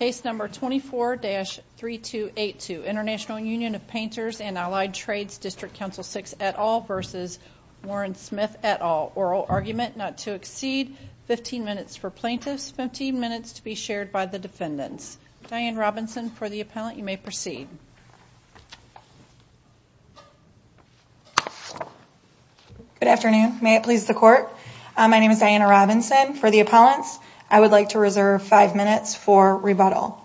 Case number 24-3282, International Union of Painters and Allied Trades District Council 6 et al versus Warren Smith et al. Oral argument not to exceed 15 minutes for plaintiffs, 15 minutes to be shared by the defendants. Diane Robinson for the appellant, you may proceed. Good afternoon, may it please the court. My name is Diana Robinson for the appellants. I would like to reserve five minutes for rebuttal.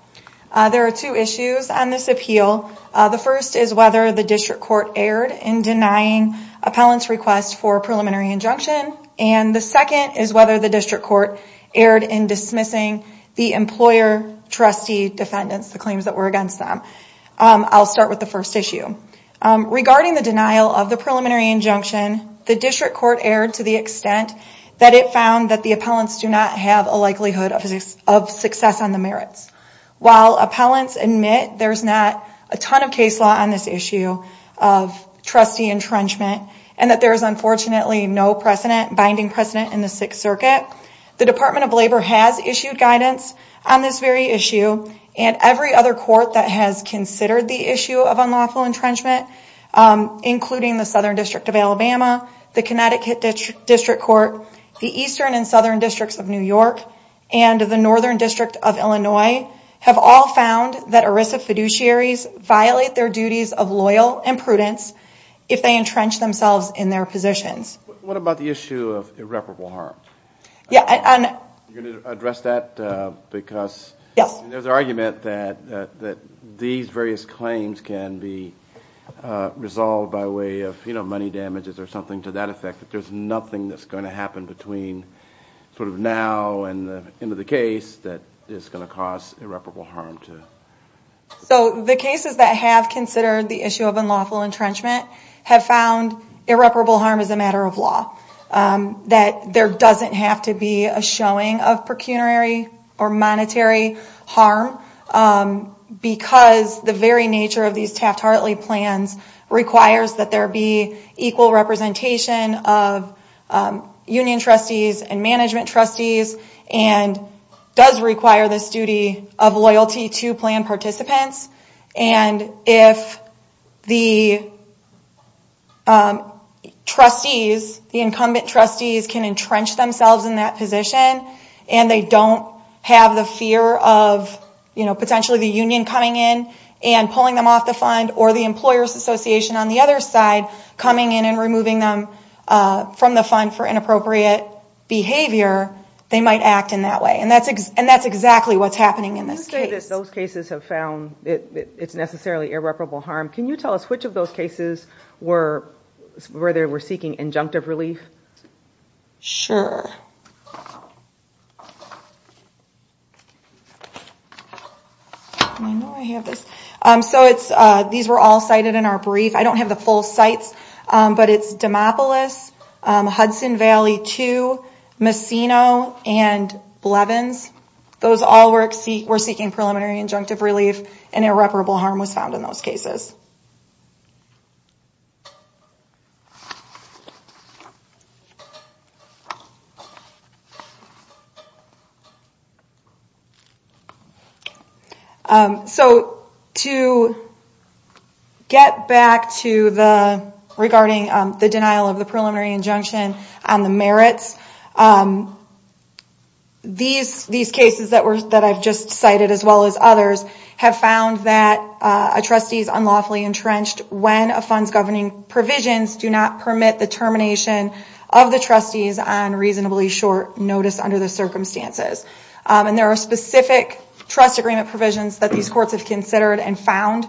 There are two issues on this appeal. The first is whether the district court erred in denying appellant's request for a preliminary injunction and the second is whether the district court erred in dismissing the employer trustee defendants, the claims that were against them. I'll start with the first issue. Regarding the denial of the preliminary injunction, the district court erred to the extent that it found that the appellants do not have a likelihood of success on the merits. While appellants admit there's not a ton of case law on this issue of trustee entrenchment and that there's unfortunately no binding precedent in the Sixth Circuit, the Department of Labor has issued guidance on this very issue and every other court that has considered the issue of unlawful entrenchment. The Eastern and Southern Districts of New York and the Northern District of Illinois have all found that ERISA fiduciaries violate their duties of loyal and prudence if they entrench themselves in their positions. What about the issue of irreparable harm? You're going to address that because there's an argument that these various claims can be resolved by way of money damages or something to that effect. There's nothing that's going happen between now and the end of the case that is going to cause irreparable harm. So the cases that have considered the issue of unlawful entrenchment have found irreparable harm is a matter of law. That there doesn't have to be a showing of pecuniary or monetary harm because the very nature of these Taft-Hartley plans requires that there be equal representation of union trustees and management trustees and does require this duty of loyalty to plan participants. If the incumbent trustees can entrench themselves in that position and they don't have the fear of potentially the union coming in and pulling them off the fund or the employers association on the other side coming in and removing them from the fund for inappropriate behavior, they might act in that way. And that's exactly what's happening in this case. You say that those cases have found it's necessarily irreparable harm. Can you tell us which of those cases were seeking injunctive relief? Sure. So these were all cited in our brief. I don't have the full sites but it's Demopolis, Hudson Valley 2, Messino, and Blevins. Those all were seeking preliminary injunctive relief and irreparable harm was found in those cases. So to get back to the regarding the denial of the preliminary injunction on the merits, these cases that I've just cited as well as others have found that a trustee is entrenched when a fund's governing provisions do not permit the termination of the trustees on reasonably short notice under the circumstances. And there are specific trust agreement provisions that these courts have considered and found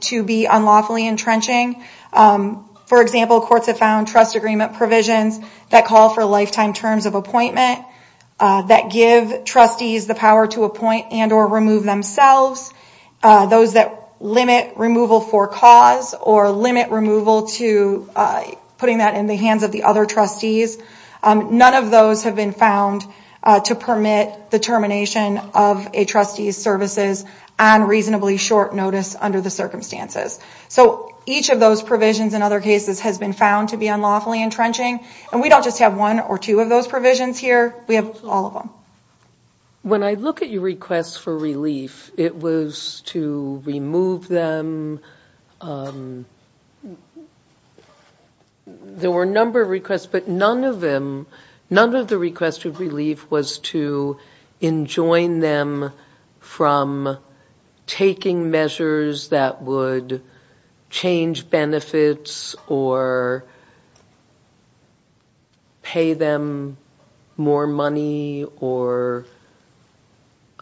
to be unlawfully entrenching. For example, courts have found trust agreement provisions that call for lifetime terms of appointment, that give trustees the power to appoint and or remove themselves, those that limit removal for cause or limit removal to putting that in the hands of the other trustees. None of those have been found to permit the termination of a trustee's services on reasonably short notice under the circumstances. So each of those provisions in other cases has been found to be unlawfully entrenched. We have all of them. When I look at your requests for relief, it was to remove them. There were a number of requests, but none of them, none of the requests for relief was to enjoin them from taking measures that would change benefits or pay them more money or,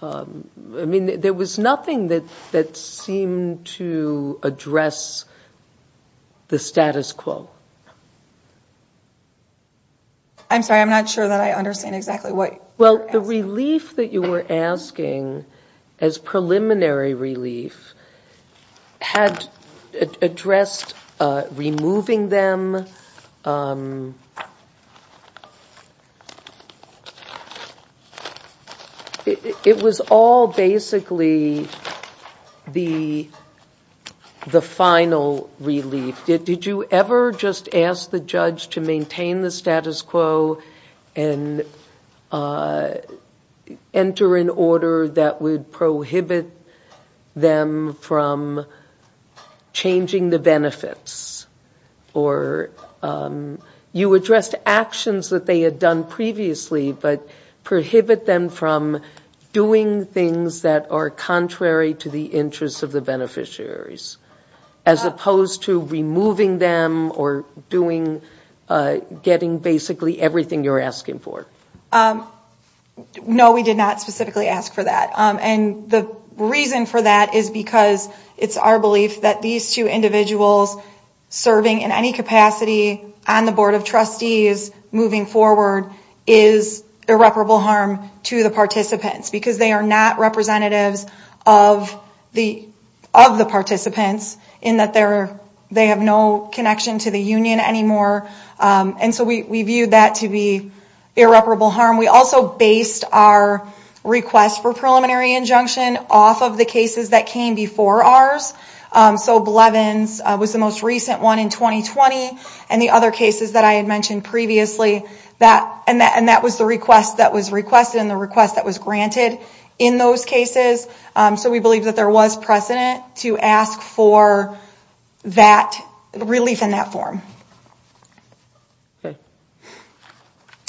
I mean, there was nothing that that seemed to address the status quo. I'm sorry, I'm not sure that I understand exactly what you're asking. Well, the relief that you were asking as preliminary relief had addressed addressed removing them. It was all basically the final relief. Did you ever just ask the judge to maintain the status quo and enter an order that would prohibit them from changing the benefits? You addressed actions that they had done previously, but prohibit them from doing things that are contrary to the interests of the beneficiaries, as opposed to removing them or doing, getting basically everything you're asking for. No, we did not specifically ask for that. And the reason for that is because it's our belief that these two individuals serving in any capacity on the Board of Trustees moving forward is irreparable harm to the participants because they are not representatives of the participants in that they have no connection to the union anymore. And so we viewed that to be irreparable harm. We also based our request for preliminary injunction off of the cases that came before ours. So Blevins was the most recent one in 2020 and the other cases that I had mentioned previously that and that was the request that was requested and the request that was granted in those cases. So we believe that there was precedent to ask for that relief in that form.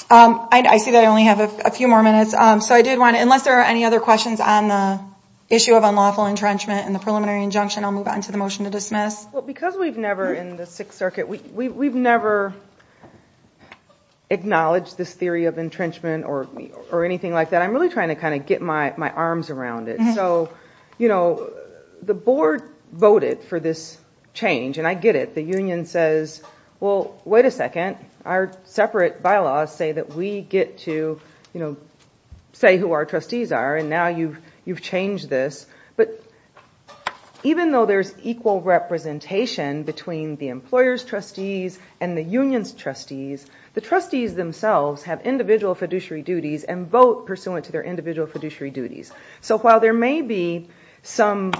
I see that I only have a few more minutes. So I did want to, unless there are any other questions on the issue of unlawful entrenchment and the preliminary injunction, I'll move on to the motion to dismiss. Well, because we've never in the Sixth Circuit, we've never acknowledged this theory of entrenchment or anything like that. I'm really trying to kind of get my arms around it. So, you know, the Board voted for this change and I get it. The union says, well, wait a second, our separate bylaws say that we get to, you know, say who our trustees are and now you've changed this. But even though there's equal representation between the employer's trustees and the union's the trustees themselves have individual fiduciary duties and vote pursuant to their individual fiduciary duties. So while there may be some,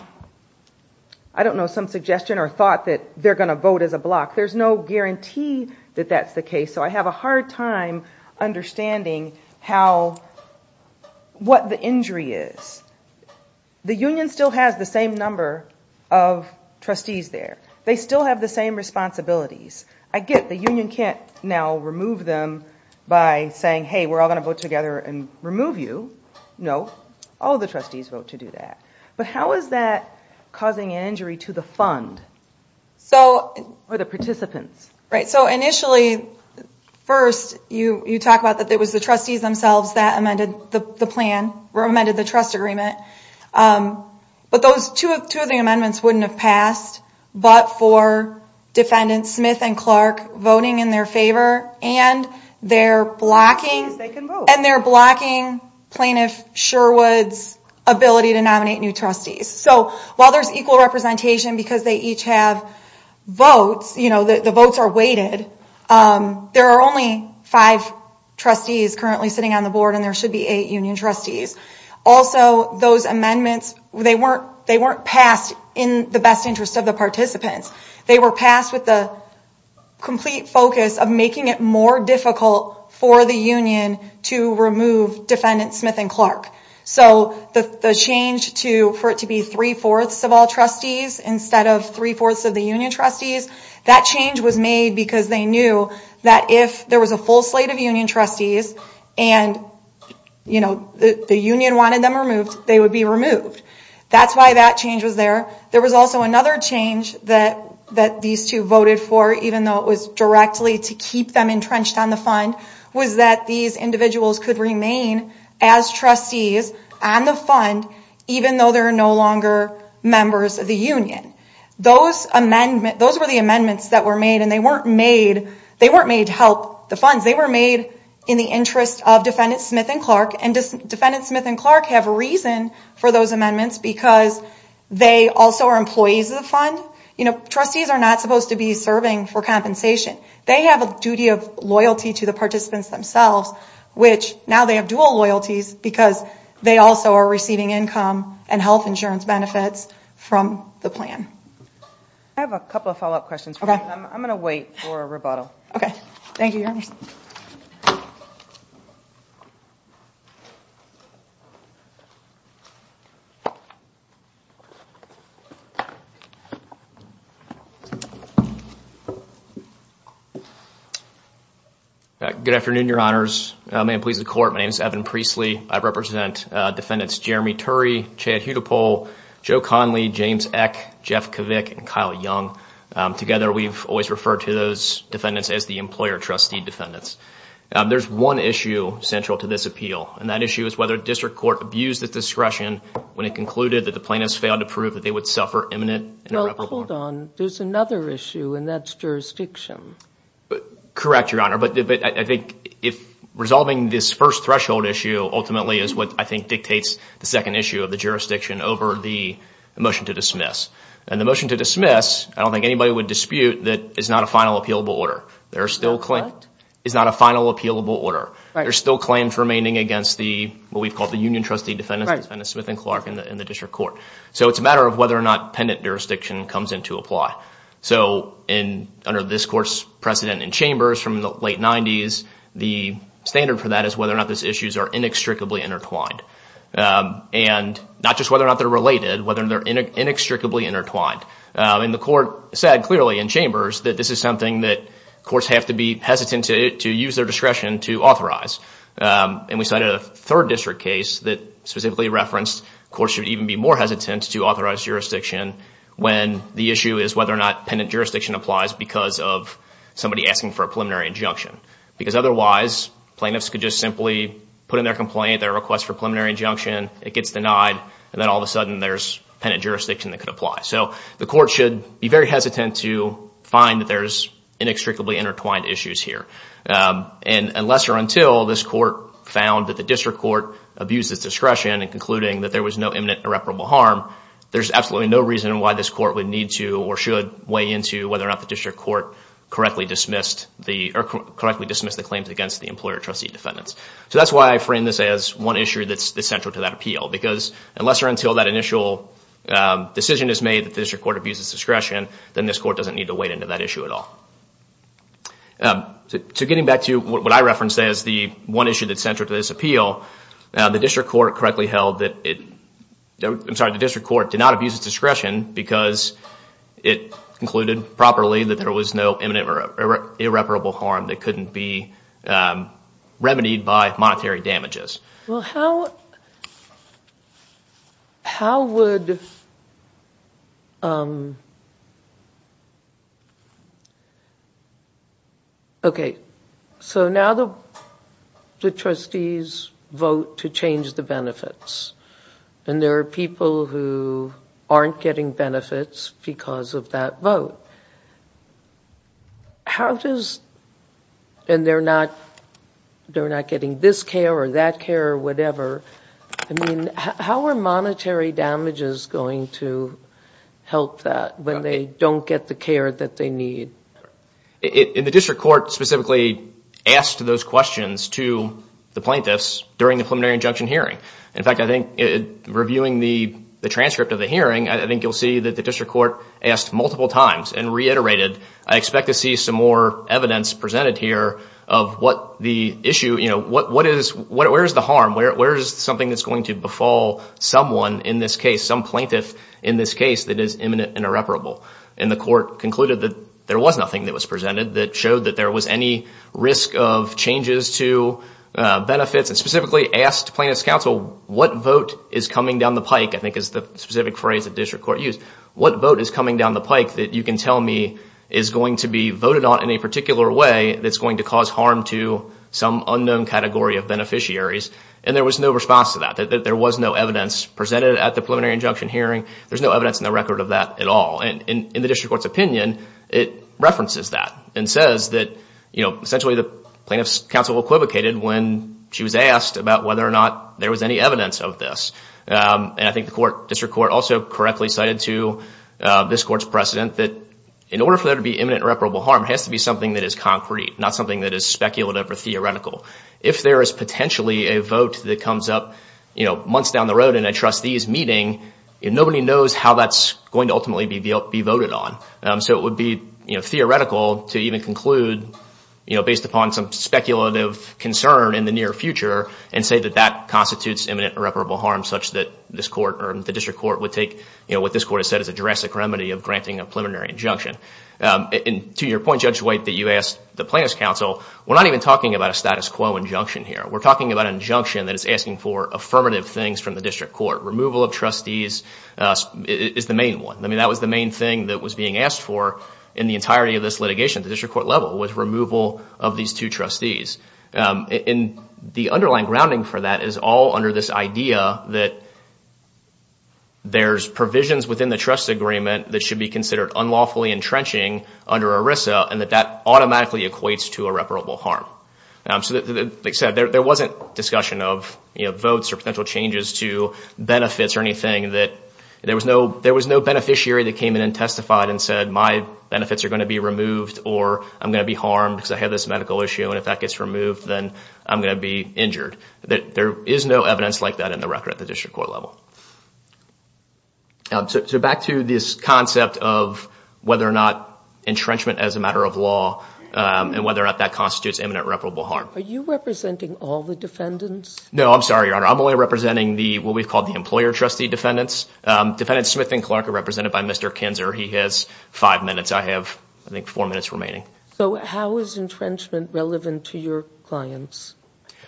I don't know, some suggestion or thought that they're going to vote as a block, there's no guarantee that that's the case. So I have a hard time understanding how, what the injury is. The union still has the same number of trustees there. They still have the same responsibilities. I get the union can't now remove them by saying, hey, we're all going to vote together and remove you. No, all the trustees vote to do that. But how is that causing an injury to the fund or the participants? Right. So initially, first you talk about that it was the trustees themselves that amended the plan or amended the agreement. But those two of the amendments wouldn't have passed. But for defendants Smith and Clark voting in their favor and they're blocking plaintiff Sherwood's ability to nominate new trustees. So while there's equal representation because they each have votes, you know, the votes are weighted. There are only five trustees currently sitting on the board and there should be eight union trustees. Also, those amendments, they weren't passed in the best interest of the participants. They were passed with the complete focus of making it more difficult for the union to remove defendants Smith and Clark. So the change for it to be three-fourths of all trustees instead of three-fourths of the union trustees, that change was made because they knew that if there was a full slate of union trustees and the union wanted them removed, they would be removed. That's why that change was there. There was also another change that these two voted for, even though it was directly to keep them entrenched on the fund, was that these individuals could remain as trustees on the fund even though they're no longer members of the union. Those were the amendments that were made and they weren't made to help the funds. They were made in the interest of defendants Smith and Clark and defendants Smith and Clark have reason for those amendments because they also are employees of the fund. Trustees are not supposed to be serving for compensation. They have a duty of loyalty to the participants themselves, which now they have dual loyalties because they also are receiving income and health insurance benefits from the plan. I have a couple of follow-up questions. I'm going to wait for a rebuttal. Okay. Thank you, your honor. Good afternoon, your honors. May it please the court, my name is Evan Priestly. I represent defendants Jeremy Turry, Chad Hudepole, Joe Conley, James Eck, Jeff Kovick, and Kyle Young. Together, we've always referred to those defendants as the employer trustee defendants. There's one issue central to this appeal and that issue is whether district court abused its discretion when it concluded that the plaintiffs failed to prove that they would suffer imminent irreparable harm. Hold on. There's another issue and that's jurisdiction. Correct, your honor. I think resolving this first threshold issue ultimately is what I think dictates the second issue of the jurisdiction over the motion to dismiss. The motion to dismiss, I don't think anybody would dispute that it's not a final appealable order. There are still claims remaining against what we've called the union trustee defendants, defendants Smith and Clark in the district court. It's a matter of whether or not pendant jurisdiction comes into apply. Under this court's precedent in chambers from the late 90s, the standard for that is whether or not these issues are inextricably intertwined. Not just whether or not they're related, whether they're inextricably intertwined. The court said clearly in chambers that this is something that courts have to be hesitant to use their discretion to authorize. We cited a third district case that specifically referenced courts should even be more hesitant to authorize jurisdiction when the issue is whether or not pendant jurisdiction applies because of somebody asking for a preliminary injunction. Otherwise, plaintiffs could just simply put in their complaint, their request for preliminary injunction, it gets denied, and then all of a sudden there's pendant jurisdiction that could apply. The court should be very hesitant to find that there's inextricably intertwined issues here. Unless or until this court found that the district court abused its discretion in concluding that there was no imminent irreparable harm, there's absolutely no reason why this court would need to or should weigh into whether or not the district court correctly dismissed the claims against the employer trustee defendants. That's why I frame this as one issue that's central to that appeal, because unless or until that initial decision is made that the district court abuses discretion, then this court doesn't need to wade into that issue at all. Getting back to what I referenced as the one issue that's central to this appeal, the district court correctly held that it, I'm sorry, the district court did not abuse discretion because it concluded properly that there was no imminent or irreparable harm that couldn't be remedied by monetary damages. Well, how would... Okay, so now the trustees vote to change the benefits, and there are people who aren't getting benefits because of that vote. How does, and they're not getting this care or that care or whatever, I mean, how are monetary damages going to affect the benefits of the plaintiffs when they don't get the care that they need? And the district court specifically asked those questions to the plaintiffs during the preliminary injunction hearing. In fact, I think reviewing the transcript of the hearing, I think you'll see that the district court asked multiple times and reiterated, I expect to see some more evidence presented here of what the issue, where's the harm, where's something that's going to befall someone in this case, some plaintiff in this case that is imminent and irreparable. And the court concluded that there was nothing that was presented that showed that there was any risk of changes to benefits and specifically asked plaintiff's counsel, what vote is coming down the pike, I think is the specific phrase that district court used, what vote is coming down the pike that you can tell me is going to be voted on in a particular way that's going to cause harm to some unknown category of beneficiaries? And there was no response to that, that there was no evidence presented at the preliminary injunction hearing, there's no evidence in the record of that at all. And in the district court's opinion, it references that and says that essentially the plaintiff's counsel equivocated when she was asked about whether or not there was any evidence of this. And I think the district court also correctly cited to this court's precedent that in order for there to be imminent irreparable harm, it has to be something that is concrete, not something that is speculative or theoretical. If there is potentially a vote that comes up months down the road in a trustee's meeting, nobody knows how that's going to ultimately be voted on. So it would be theoretical to even conclude based upon some speculative concern in the near future and say that that constitutes imminent irreparable harm such that this court or the district court would take what this court has said is a jurassic remedy of granting a preliminary injunction. And to your point, Judge White, that you asked the plaintiff's counsel, we're not even talking about a status quo injunction here. We're talking about an injunction that is asking for affirmative things from the district court. Removal of trustees is the main one. I mean, that was the main thing that was being asked for in the entirety of this litigation at the district court level, was removal of these two trustees. And the underlying grounding for that is all under this idea that there's provisions within the trust agreement that should be considered unlawfully entrenching under ERISA and that that automatically equates to irreparable harm. So like I said, there wasn't discussion of, you know, votes or potential changes to benefits or anything that there was no beneficiary that came in and testified and said my benefits are going to be removed or I'm going to be harmed because I have this medical issue. And if that gets removed, then I'm going to be injured. There is no evidence like that in the record at the district court level. So back to this concept of whether or not entrenchment as a matter of law and whether or not that constitutes imminent reparable harm. Are you representing all the defendants? No, I'm sorry, Your Honor. I'm only representing what we've called the employer trustee defendants. Defendant Smith and Clark are represented by Mr. Kinzer. He has five minutes. I have, I think, four minutes remaining. So how is entrenchment relevant to your clients?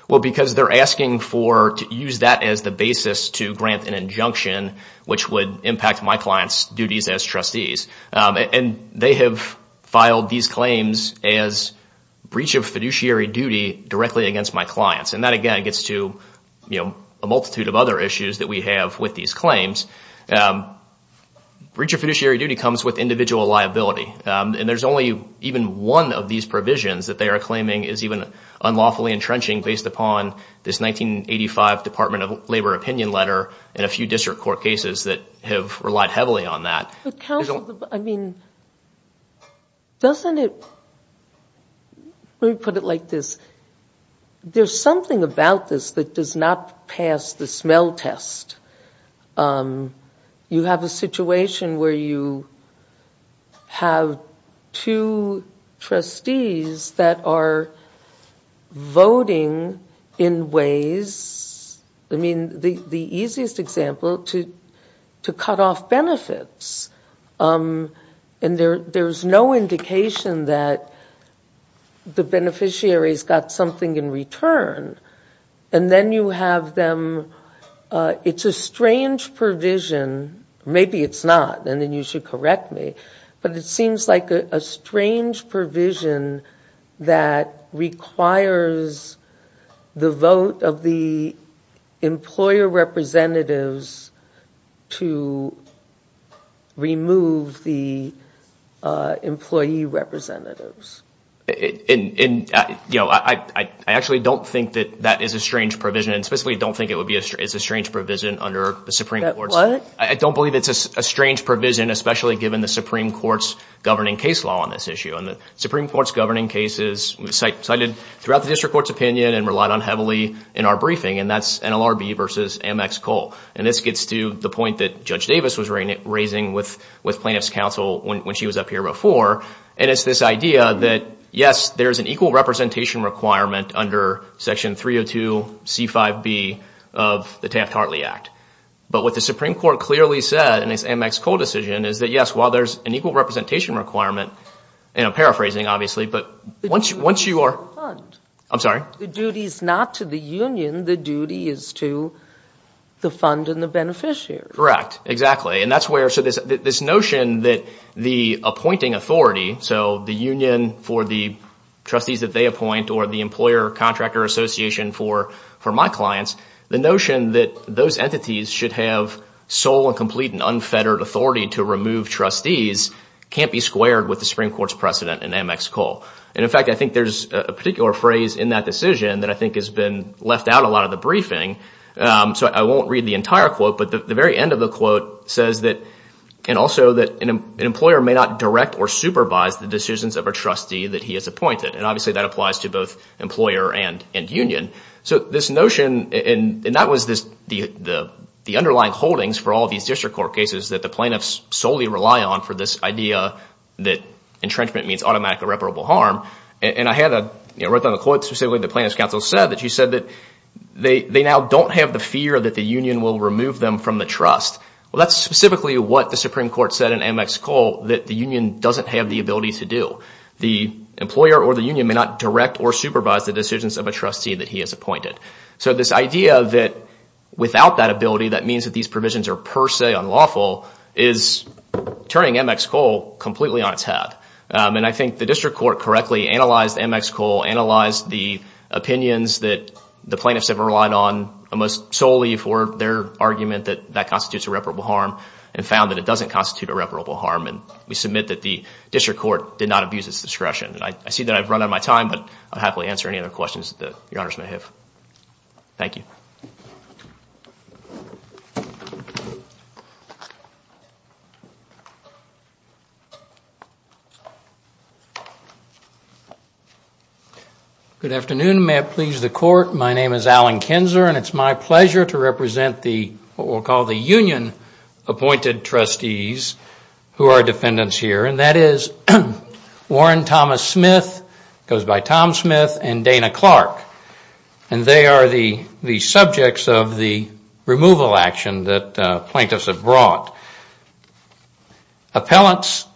Well, because they're asking for to use that as the basis to grant an injunction, which would impact my client's duties as trustees. And they have filed these claims as breach of fiduciary duty directly against my clients. And that, again, gets to, you know, a multitude of other issues that we have with these claims. Breach of fiduciary duty comes with individual liability. And there's only even one of these provisions that they are claiming is even unlawfully entrenching based upon this 1985 Department of Labor opinion letter and a few district court cases that have relied heavily on that. I mean, doesn't it, let me put it like this. There's something about this that does not pass the smell test. You have a situation where you have two trustees that are voting in ways, I mean, the easiest example, to cut off benefits. And there's no indication that the beneficiary's got something in return. And then you have them, it's a strange provision. Maybe it's not, and then you should correct me. But it seems like a strange provision that requires the vote of the employer representatives to remove the employee representatives. And, you know, I actually don't think that that is a strange provision, and specifically don't think it's a strange provision under the Supreme Court. What? I don't believe it's a strange provision, especially given the Supreme Court's governing case law on this issue. And the Supreme Court's governing cases cited throughout the district court's opinion and relied on heavily in our briefing. And that's NLRB versus Amex Coal. And this gets to the point that Judge Davis was raising with plaintiff's counsel when she was up here before. And it's this idea that, yes, there's an equal representation requirement under Section 302 C5B of the Taft-Hartley Act. But what the Supreme Court clearly said in its Amex Coal decision is that, yes, while there's an equal representation requirement, and I'm paraphrasing, obviously, but once you are... The duty is not to the fund. I'm sorry? The duty is not to the union. The duty is to the fund and the beneficiary. Correct. Exactly. And that's where... So this notion that the appointing authority, so the union for the trustees that they appoint or the employer-contractor association for my clients, the notion that those entities should have sole and complete and unfettered authority to remove trustees can't be squared with the Supreme Court's precedent in Amex Coal. And in fact, I think there's a particular phrase in that decision that I think has been left out a lot of the briefing. So I won't read the entire quote, but the very end of the quote says that... And also that an employer may not direct or supervise the decisions of a trustee that he has appointed. And obviously, that applies to both employer and union. So this notion... And that was the underlying holdings for all these district court cases that the plaintiffs solely rely on for this idea that entrenchment means automatic irreparable harm. And I had a... I wrote down a quote specifically the plaintiff's counsel said that she said that they now don't have the fear that the union will remove them from the trust. Well, that's specifically what the Supreme Court said in Amex Coal that the union doesn't have the ability to do. The employer or the union may not direct or supervise the decisions of a trustee that he has appointed. So this idea that without that ability, that means that these provisions are per se unlawful is turning Amex Coal completely on its head. And I think the court correctly analyzed Amex Coal, analyzed the opinions that the plaintiffs have relied on most solely for their argument that that constitutes irreparable harm and found that it doesn't constitute irreparable harm. And we submit that the district court did not abuse its discretion. And I see that I've run out of my time, but I'll happily answer any other questions that your honors may have. Thank you. Good afternoon. May it please the court, my name is Alan Kinzer and it's my pleasure to represent the what we'll call the union appointed trustees who are defendants here. And that is Warren Thomas Smith, goes by Tom Smith, and Dana Clark. And they are the subjects of the removal action that plaintiffs have brought. Appellants,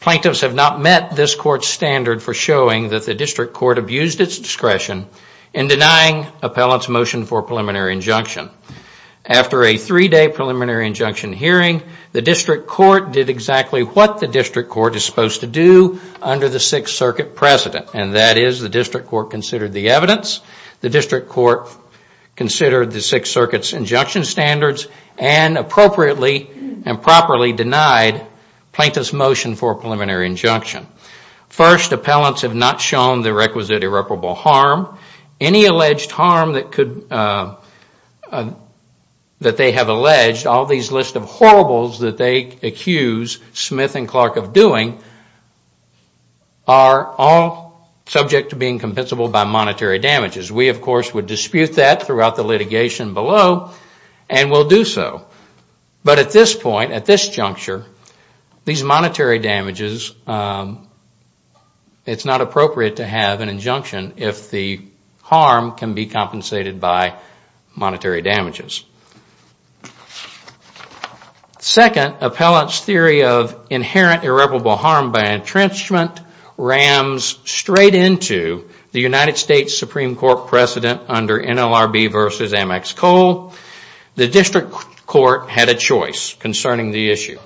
plaintiffs have not met this court's standard for showing that the district court abused its discretion in denying appellants motion for preliminary injunction. After a three-day injunction hearing, the district court did exactly what the district court is supposed to do under the Sixth Circuit precedent. And that is the district court considered the evidence, the district court considered the Sixth Circuit's injunction standards, and appropriately and properly denied plaintiffs motion for preliminary injunction. First, appellants have not shown the irreparable harm. Any alleged harm that they have alleged, all these list of horribles that they accuse Smith and Clark of doing, are all subject to being compensable by monetary damages. We of course would dispute that throughout the litigation below and will do so. But at this point, at this if the harm can be compensated by monetary damages. Second, appellants' theory of inherent irreparable harm by entrenchment rams straight into the United States Supreme Court precedent under NLRB v. Amex Coal. The district court had a choice concerning the issue.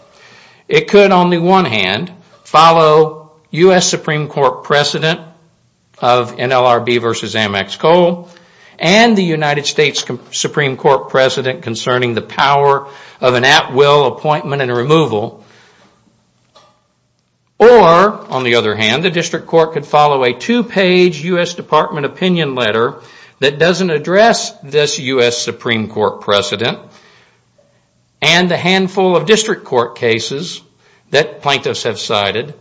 It could on the one hand follow U.S. Supreme Court precedent of NLRB v. Amex Coal and the United States Supreme Court precedent concerning the power of an at-will appointment and removal. Or, on the other hand, the district court could follow a two-page U.S. Department opinion letter that doesn't address this U.S. Supreme Court precedent and the handful of district court cases that plaintiffs have cited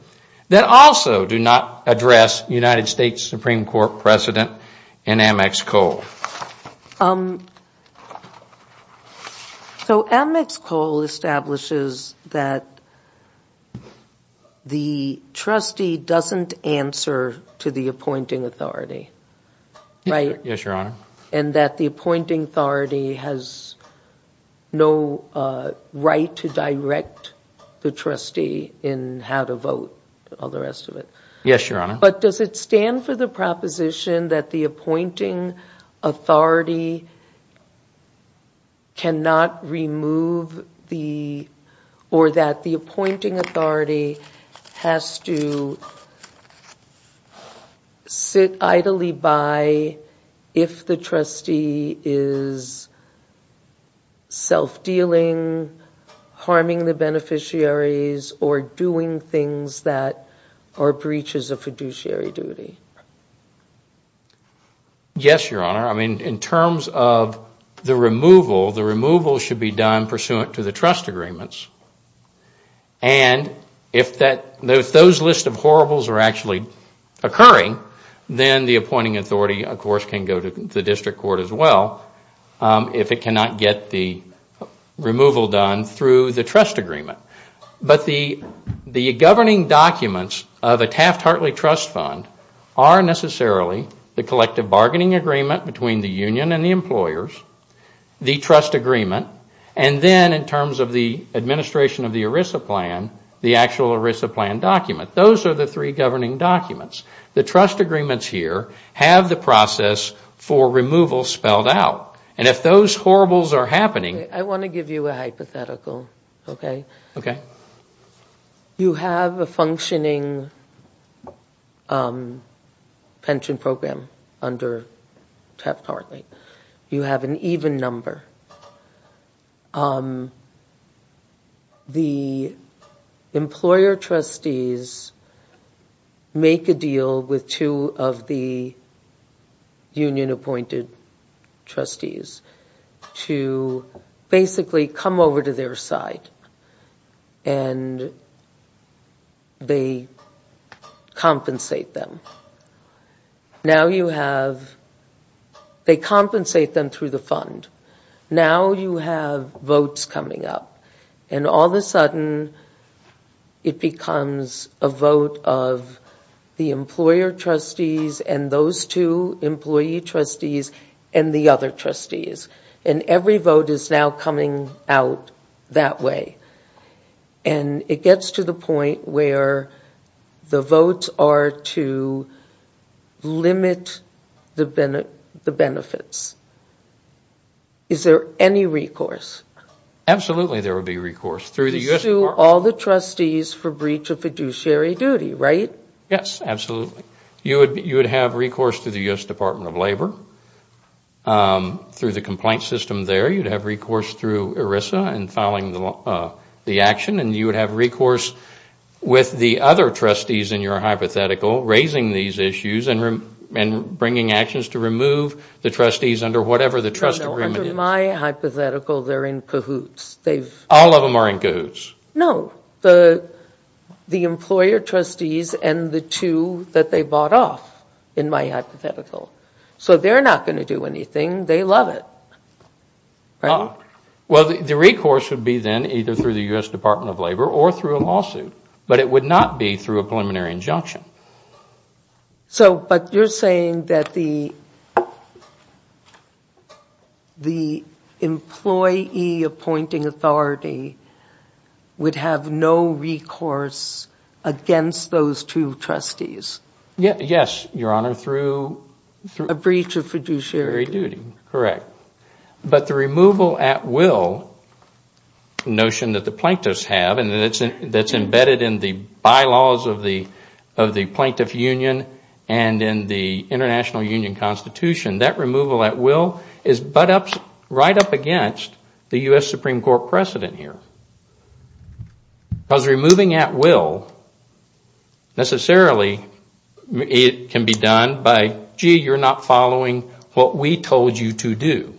that also do not address United States Supreme Court precedent in Amex Coal. So Amex Coal establishes that the trustee doesn't answer to the appointing authority, right? Yes, your honor. And that the authority has no right to direct the trustee in how to vote, all the rest of it. Yes, your honor. But does it stand for the proposition that the appointing authority cannot remove the, or that the appointing authority has to sit idly by if the trustee is self-dealing, harming the beneficiaries, or doing things that are breaches of fiduciary duty? Yes, your honor. I mean, in terms of the removal, the removal should be done pursuant to the trust agreements. And if those lists of horribles are actually occurring, then the appointing authority, of course, can go to the district court as well if it cannot get the removal done through the trust agreement. But the governing documents of a Taft-Hartley trust fund are necessarily the collective bargaining agreement between the union and the employers, the trust agreement, and then in terms of the administration of the ERISA plan, the actual ERISA plan document. Those are the three governing documents. The trust agreements here have the process for removal spelled out. And if those horribles are happening... I want to give you a hypothetical, okay? Okay. You have a functioning pension program under Taft-Hartley. You have an even number. The employer trustees make a deal with two of the union-appointed trustees to basically come over to their side and they compensate them. They compensate them through the fund. Now you have votes coming up. And all of a sudden, it becomes a vote of the employer trustees and those two employee trustees and the other trustees. And every vote is now coming out that way. And it gets to the point where the votes are to limit the benefits. Is there any recourse? Absolutely, there would be recourse. To sue all the trustees for breach of fiduciary duty, right? Yes, absolutely. You would have recourse to the U.S. Department of Labor. Through the complaint system there, you would have recourse through ERISA in filing the action. And you would have recourse with the other trustees in your hypothetical, raising these issues and bringing actions to remove the trustees under whatever the trust agreement is. Under my hypothetical, they are in cahoots. All of them are in cahoots. No, the employer trustees and the two that they bought off in my hypothetical. So they're not going to do anything. They love it. Well, the recourse would be then either through the U.S. Department of Labor or through a lawsuit. But it would not be through a preliminary injunction. But you're saying that the employee appointing authority would have no recourse against those two trustees? Yes, Your Honor, through a breach of fiduciary duty, correct. But the removal at will notion that the plaintiffs have and that's embedded in the plaintiff union and in the international union constitution, that removal at will is right up against the U.S. Supreme Court precedent here. Because removing at will necessarily can be done by, gee, you're not following what we told you to do.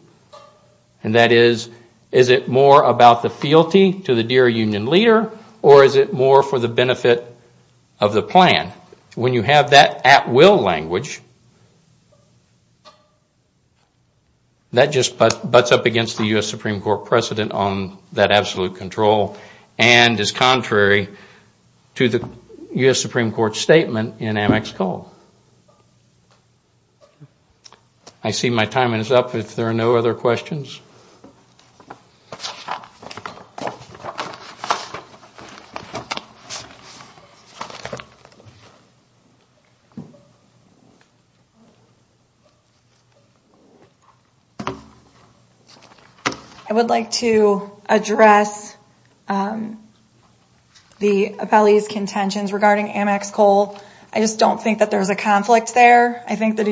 And that is, is it more about the fealty to the dear union leader or is it more for the benefit of the plan? When you have that at will language, that just butts up against the U.S. Supreme Court precedent on that absolute control and is contrary to the U.S. Supreme Court statement in Amex Cole. I see my time is up if there are no other questions. I would like to address the appellee's contentions regarding Amex Cole. I just don't think that there's a conflict there. I think that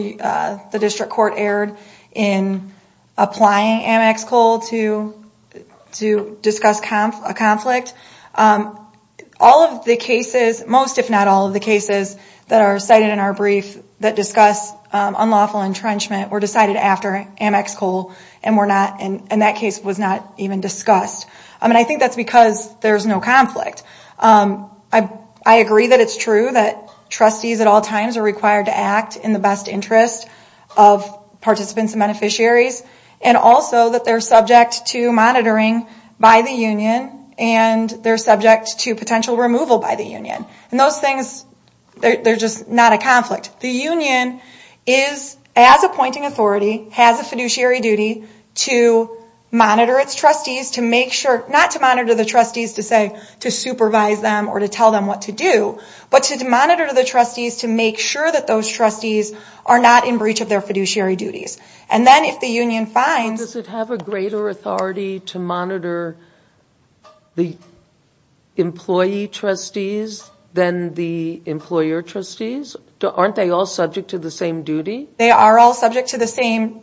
the district court erred in applying Amex Cole to to discuss a conflict. All of the cases, most if not all of the cases that are cited in our brief that discuss unlawful entrenchment were decided after Amex Cole and that case was not even discussed. I think that's because there's no conflict. I agree that it's true that trustees at all times are required to act in the best interest of participants and beneficiaries and also that they're subject to monitoring by the union and they're subject to potential removal by the union. Those things, they're just not a conflict. The union is, as appointing authority, has a fiduciary duty to monitor its trustees, not to monitor the trustees to say to supervise them or to tell them what to do, but to monitor the trustees to make sure that those trustees are not in breach of their fiduciary duties. And then if the union finds... Does it have a greater authority to monitor the employee trustees than the employer trustees? Aren't they all subject to the same duty? They are all subject to the same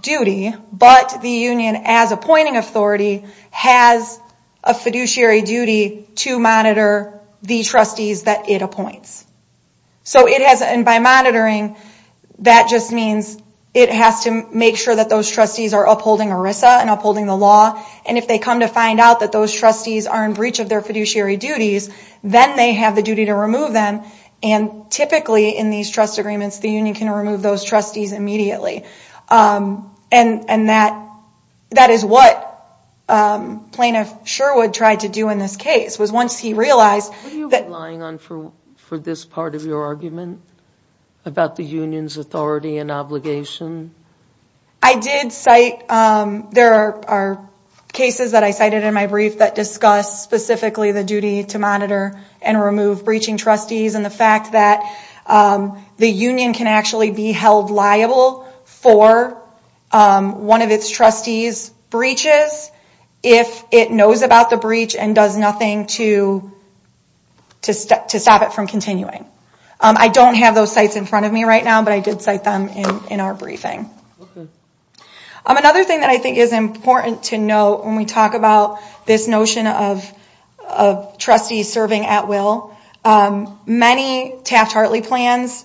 duty, but the union as appointing authority has a fiduciary duty to monitor the trustees that it appoints. By monitoring, that just means it has to make sure that those trustees are upholding ERISA and upholding the law. And if they come to find out that those trustees are in breach of their fiduciary duties, then they have the duty to remove them. And typically in these trust agreements, the union can remove those trustees immediately. And that is what plaintiff Sherwood tried to do in this case, was once he realized... Were you relying on for this part of your argument about the union's authority and obligation? I did cite... There are cases that I cited in my brief that discuss specifically the duty to remove breaching trustees and the fact that the union can actually be held liable for one of its trustees breaches if it knows about the breach and does nothing to stop it from continuing. I don't have those sites in front of me right now, but I did cite them in our briefing. Another thing that I think is important to note when we talk about employees serving at will, many Taft-Hartley plans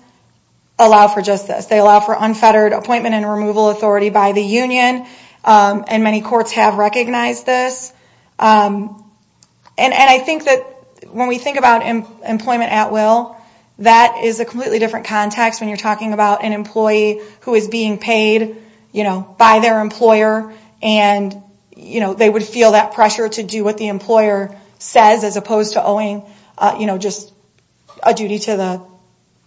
allow for just this. They allow for unfettered appointment and removal authority by the union, and many courts have recognized this. And I think that when we think about employment at will, that is a completely different context when you're talking about an employee who is being paid by their employer and they would feel that pressure to do what the employer says as opposed to owing just a duty to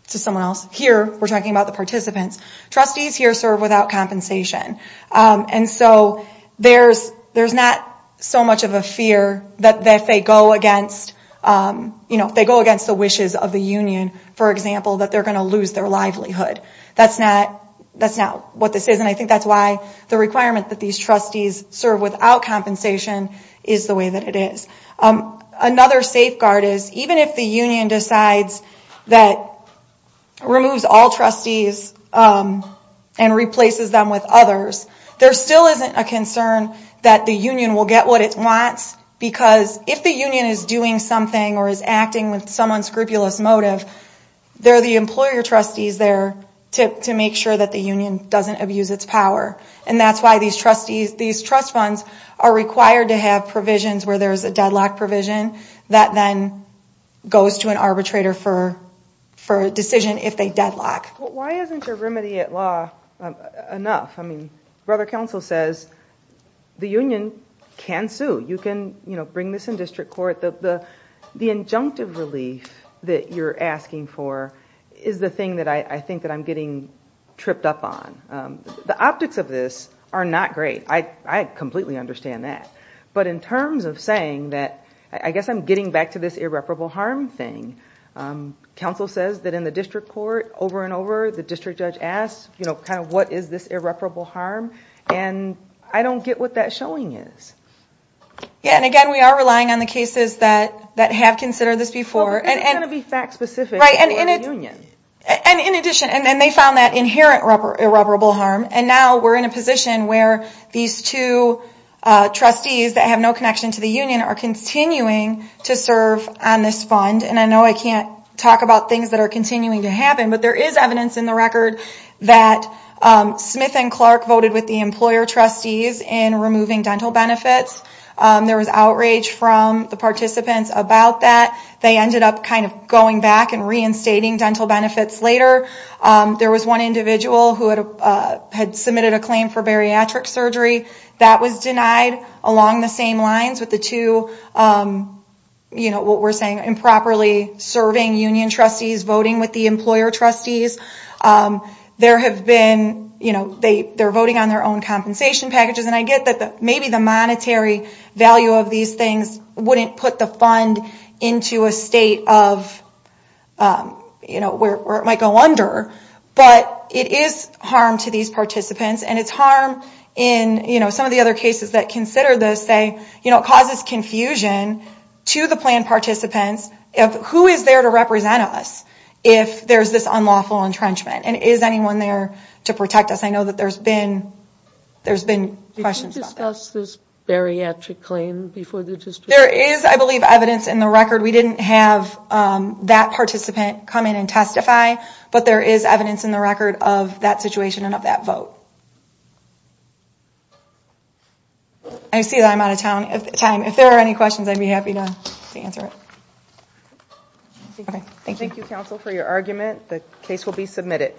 someone else. Here, we're talking about the participants. Trustees here serve without compensation, and so there's not so much of a fear that if they go against the wishes of the union, for example, that they're going to lose their livelihood. That's not what this is, and I think that's why the requirement that these trustees serve without compensation is the way that it is. Another safeguard is even if the union decides that it removes all trustees and replaces them with others, there still isn't a concern that the union will get what it wants because if the union is doing something or is acting with some unscrupulous motive, there are the employer trustees there to make sure that the union doesn't abuse its power, and that's why these trust funds are required to have provisions where there's a deadlock provision that then goes to an arbitrator for a decision if they deadlock. Why isn't your remedy at law enough? I mean, Brother Counsel says the union can sue. You can bring this in district court. The injunctive relief that you're asking for is the thing that I think that I'm getting tripped up on. The optics of this are not great. I completely understand that, but in terms of saying that, I guess I'm getting back to this irreparable harm thing. Counsel says that in the district court, over and over, the district judge asks, what is this irreparable harm? I don't get what that showing is. Again, we are relying on the cases that have considered this before. Well, because it's going to be fact-specific for the union. In addition, they found that inherent irreparable harm, and now we're in a position where these two trustees that have no connection to the union are continuing to serve on this fund. I know I can't talk about things that are continuing to happen, but there is evidence in that Smith and Clark voted with the employer trustees in removing dental benefits. There was outrage from the participants about that. They ended up going back and reinstating dental benefits later. There was one individual who had submitted a claim for bariatric surgery. That was denied along the same lines with the two, what we're saying, improperly serving union trustees voting with the employer trustees. They're voting on their own compensation packages, and I get that maybe the monetary value of these things wouldn't put the fund into a state of where it might go under, but it is harm to these participants. It's harm in some of the other cases that consider this. It causes confusion to the plan participants. Who is there to represent us if there's this unlawful entrenchment, and is anyone there to protect us? I know that there's been questions. Did you discuss this bariatric claim before the dispute? There is, I believe, evidence in the record. We didn't have that participant come in and testify, but there is evidence in the record of that situation and of that vote. I see that I'm out of time. If there are any questions, I'd be happy to answer it. Thank you, counsel, for your argument. The case will be submitted.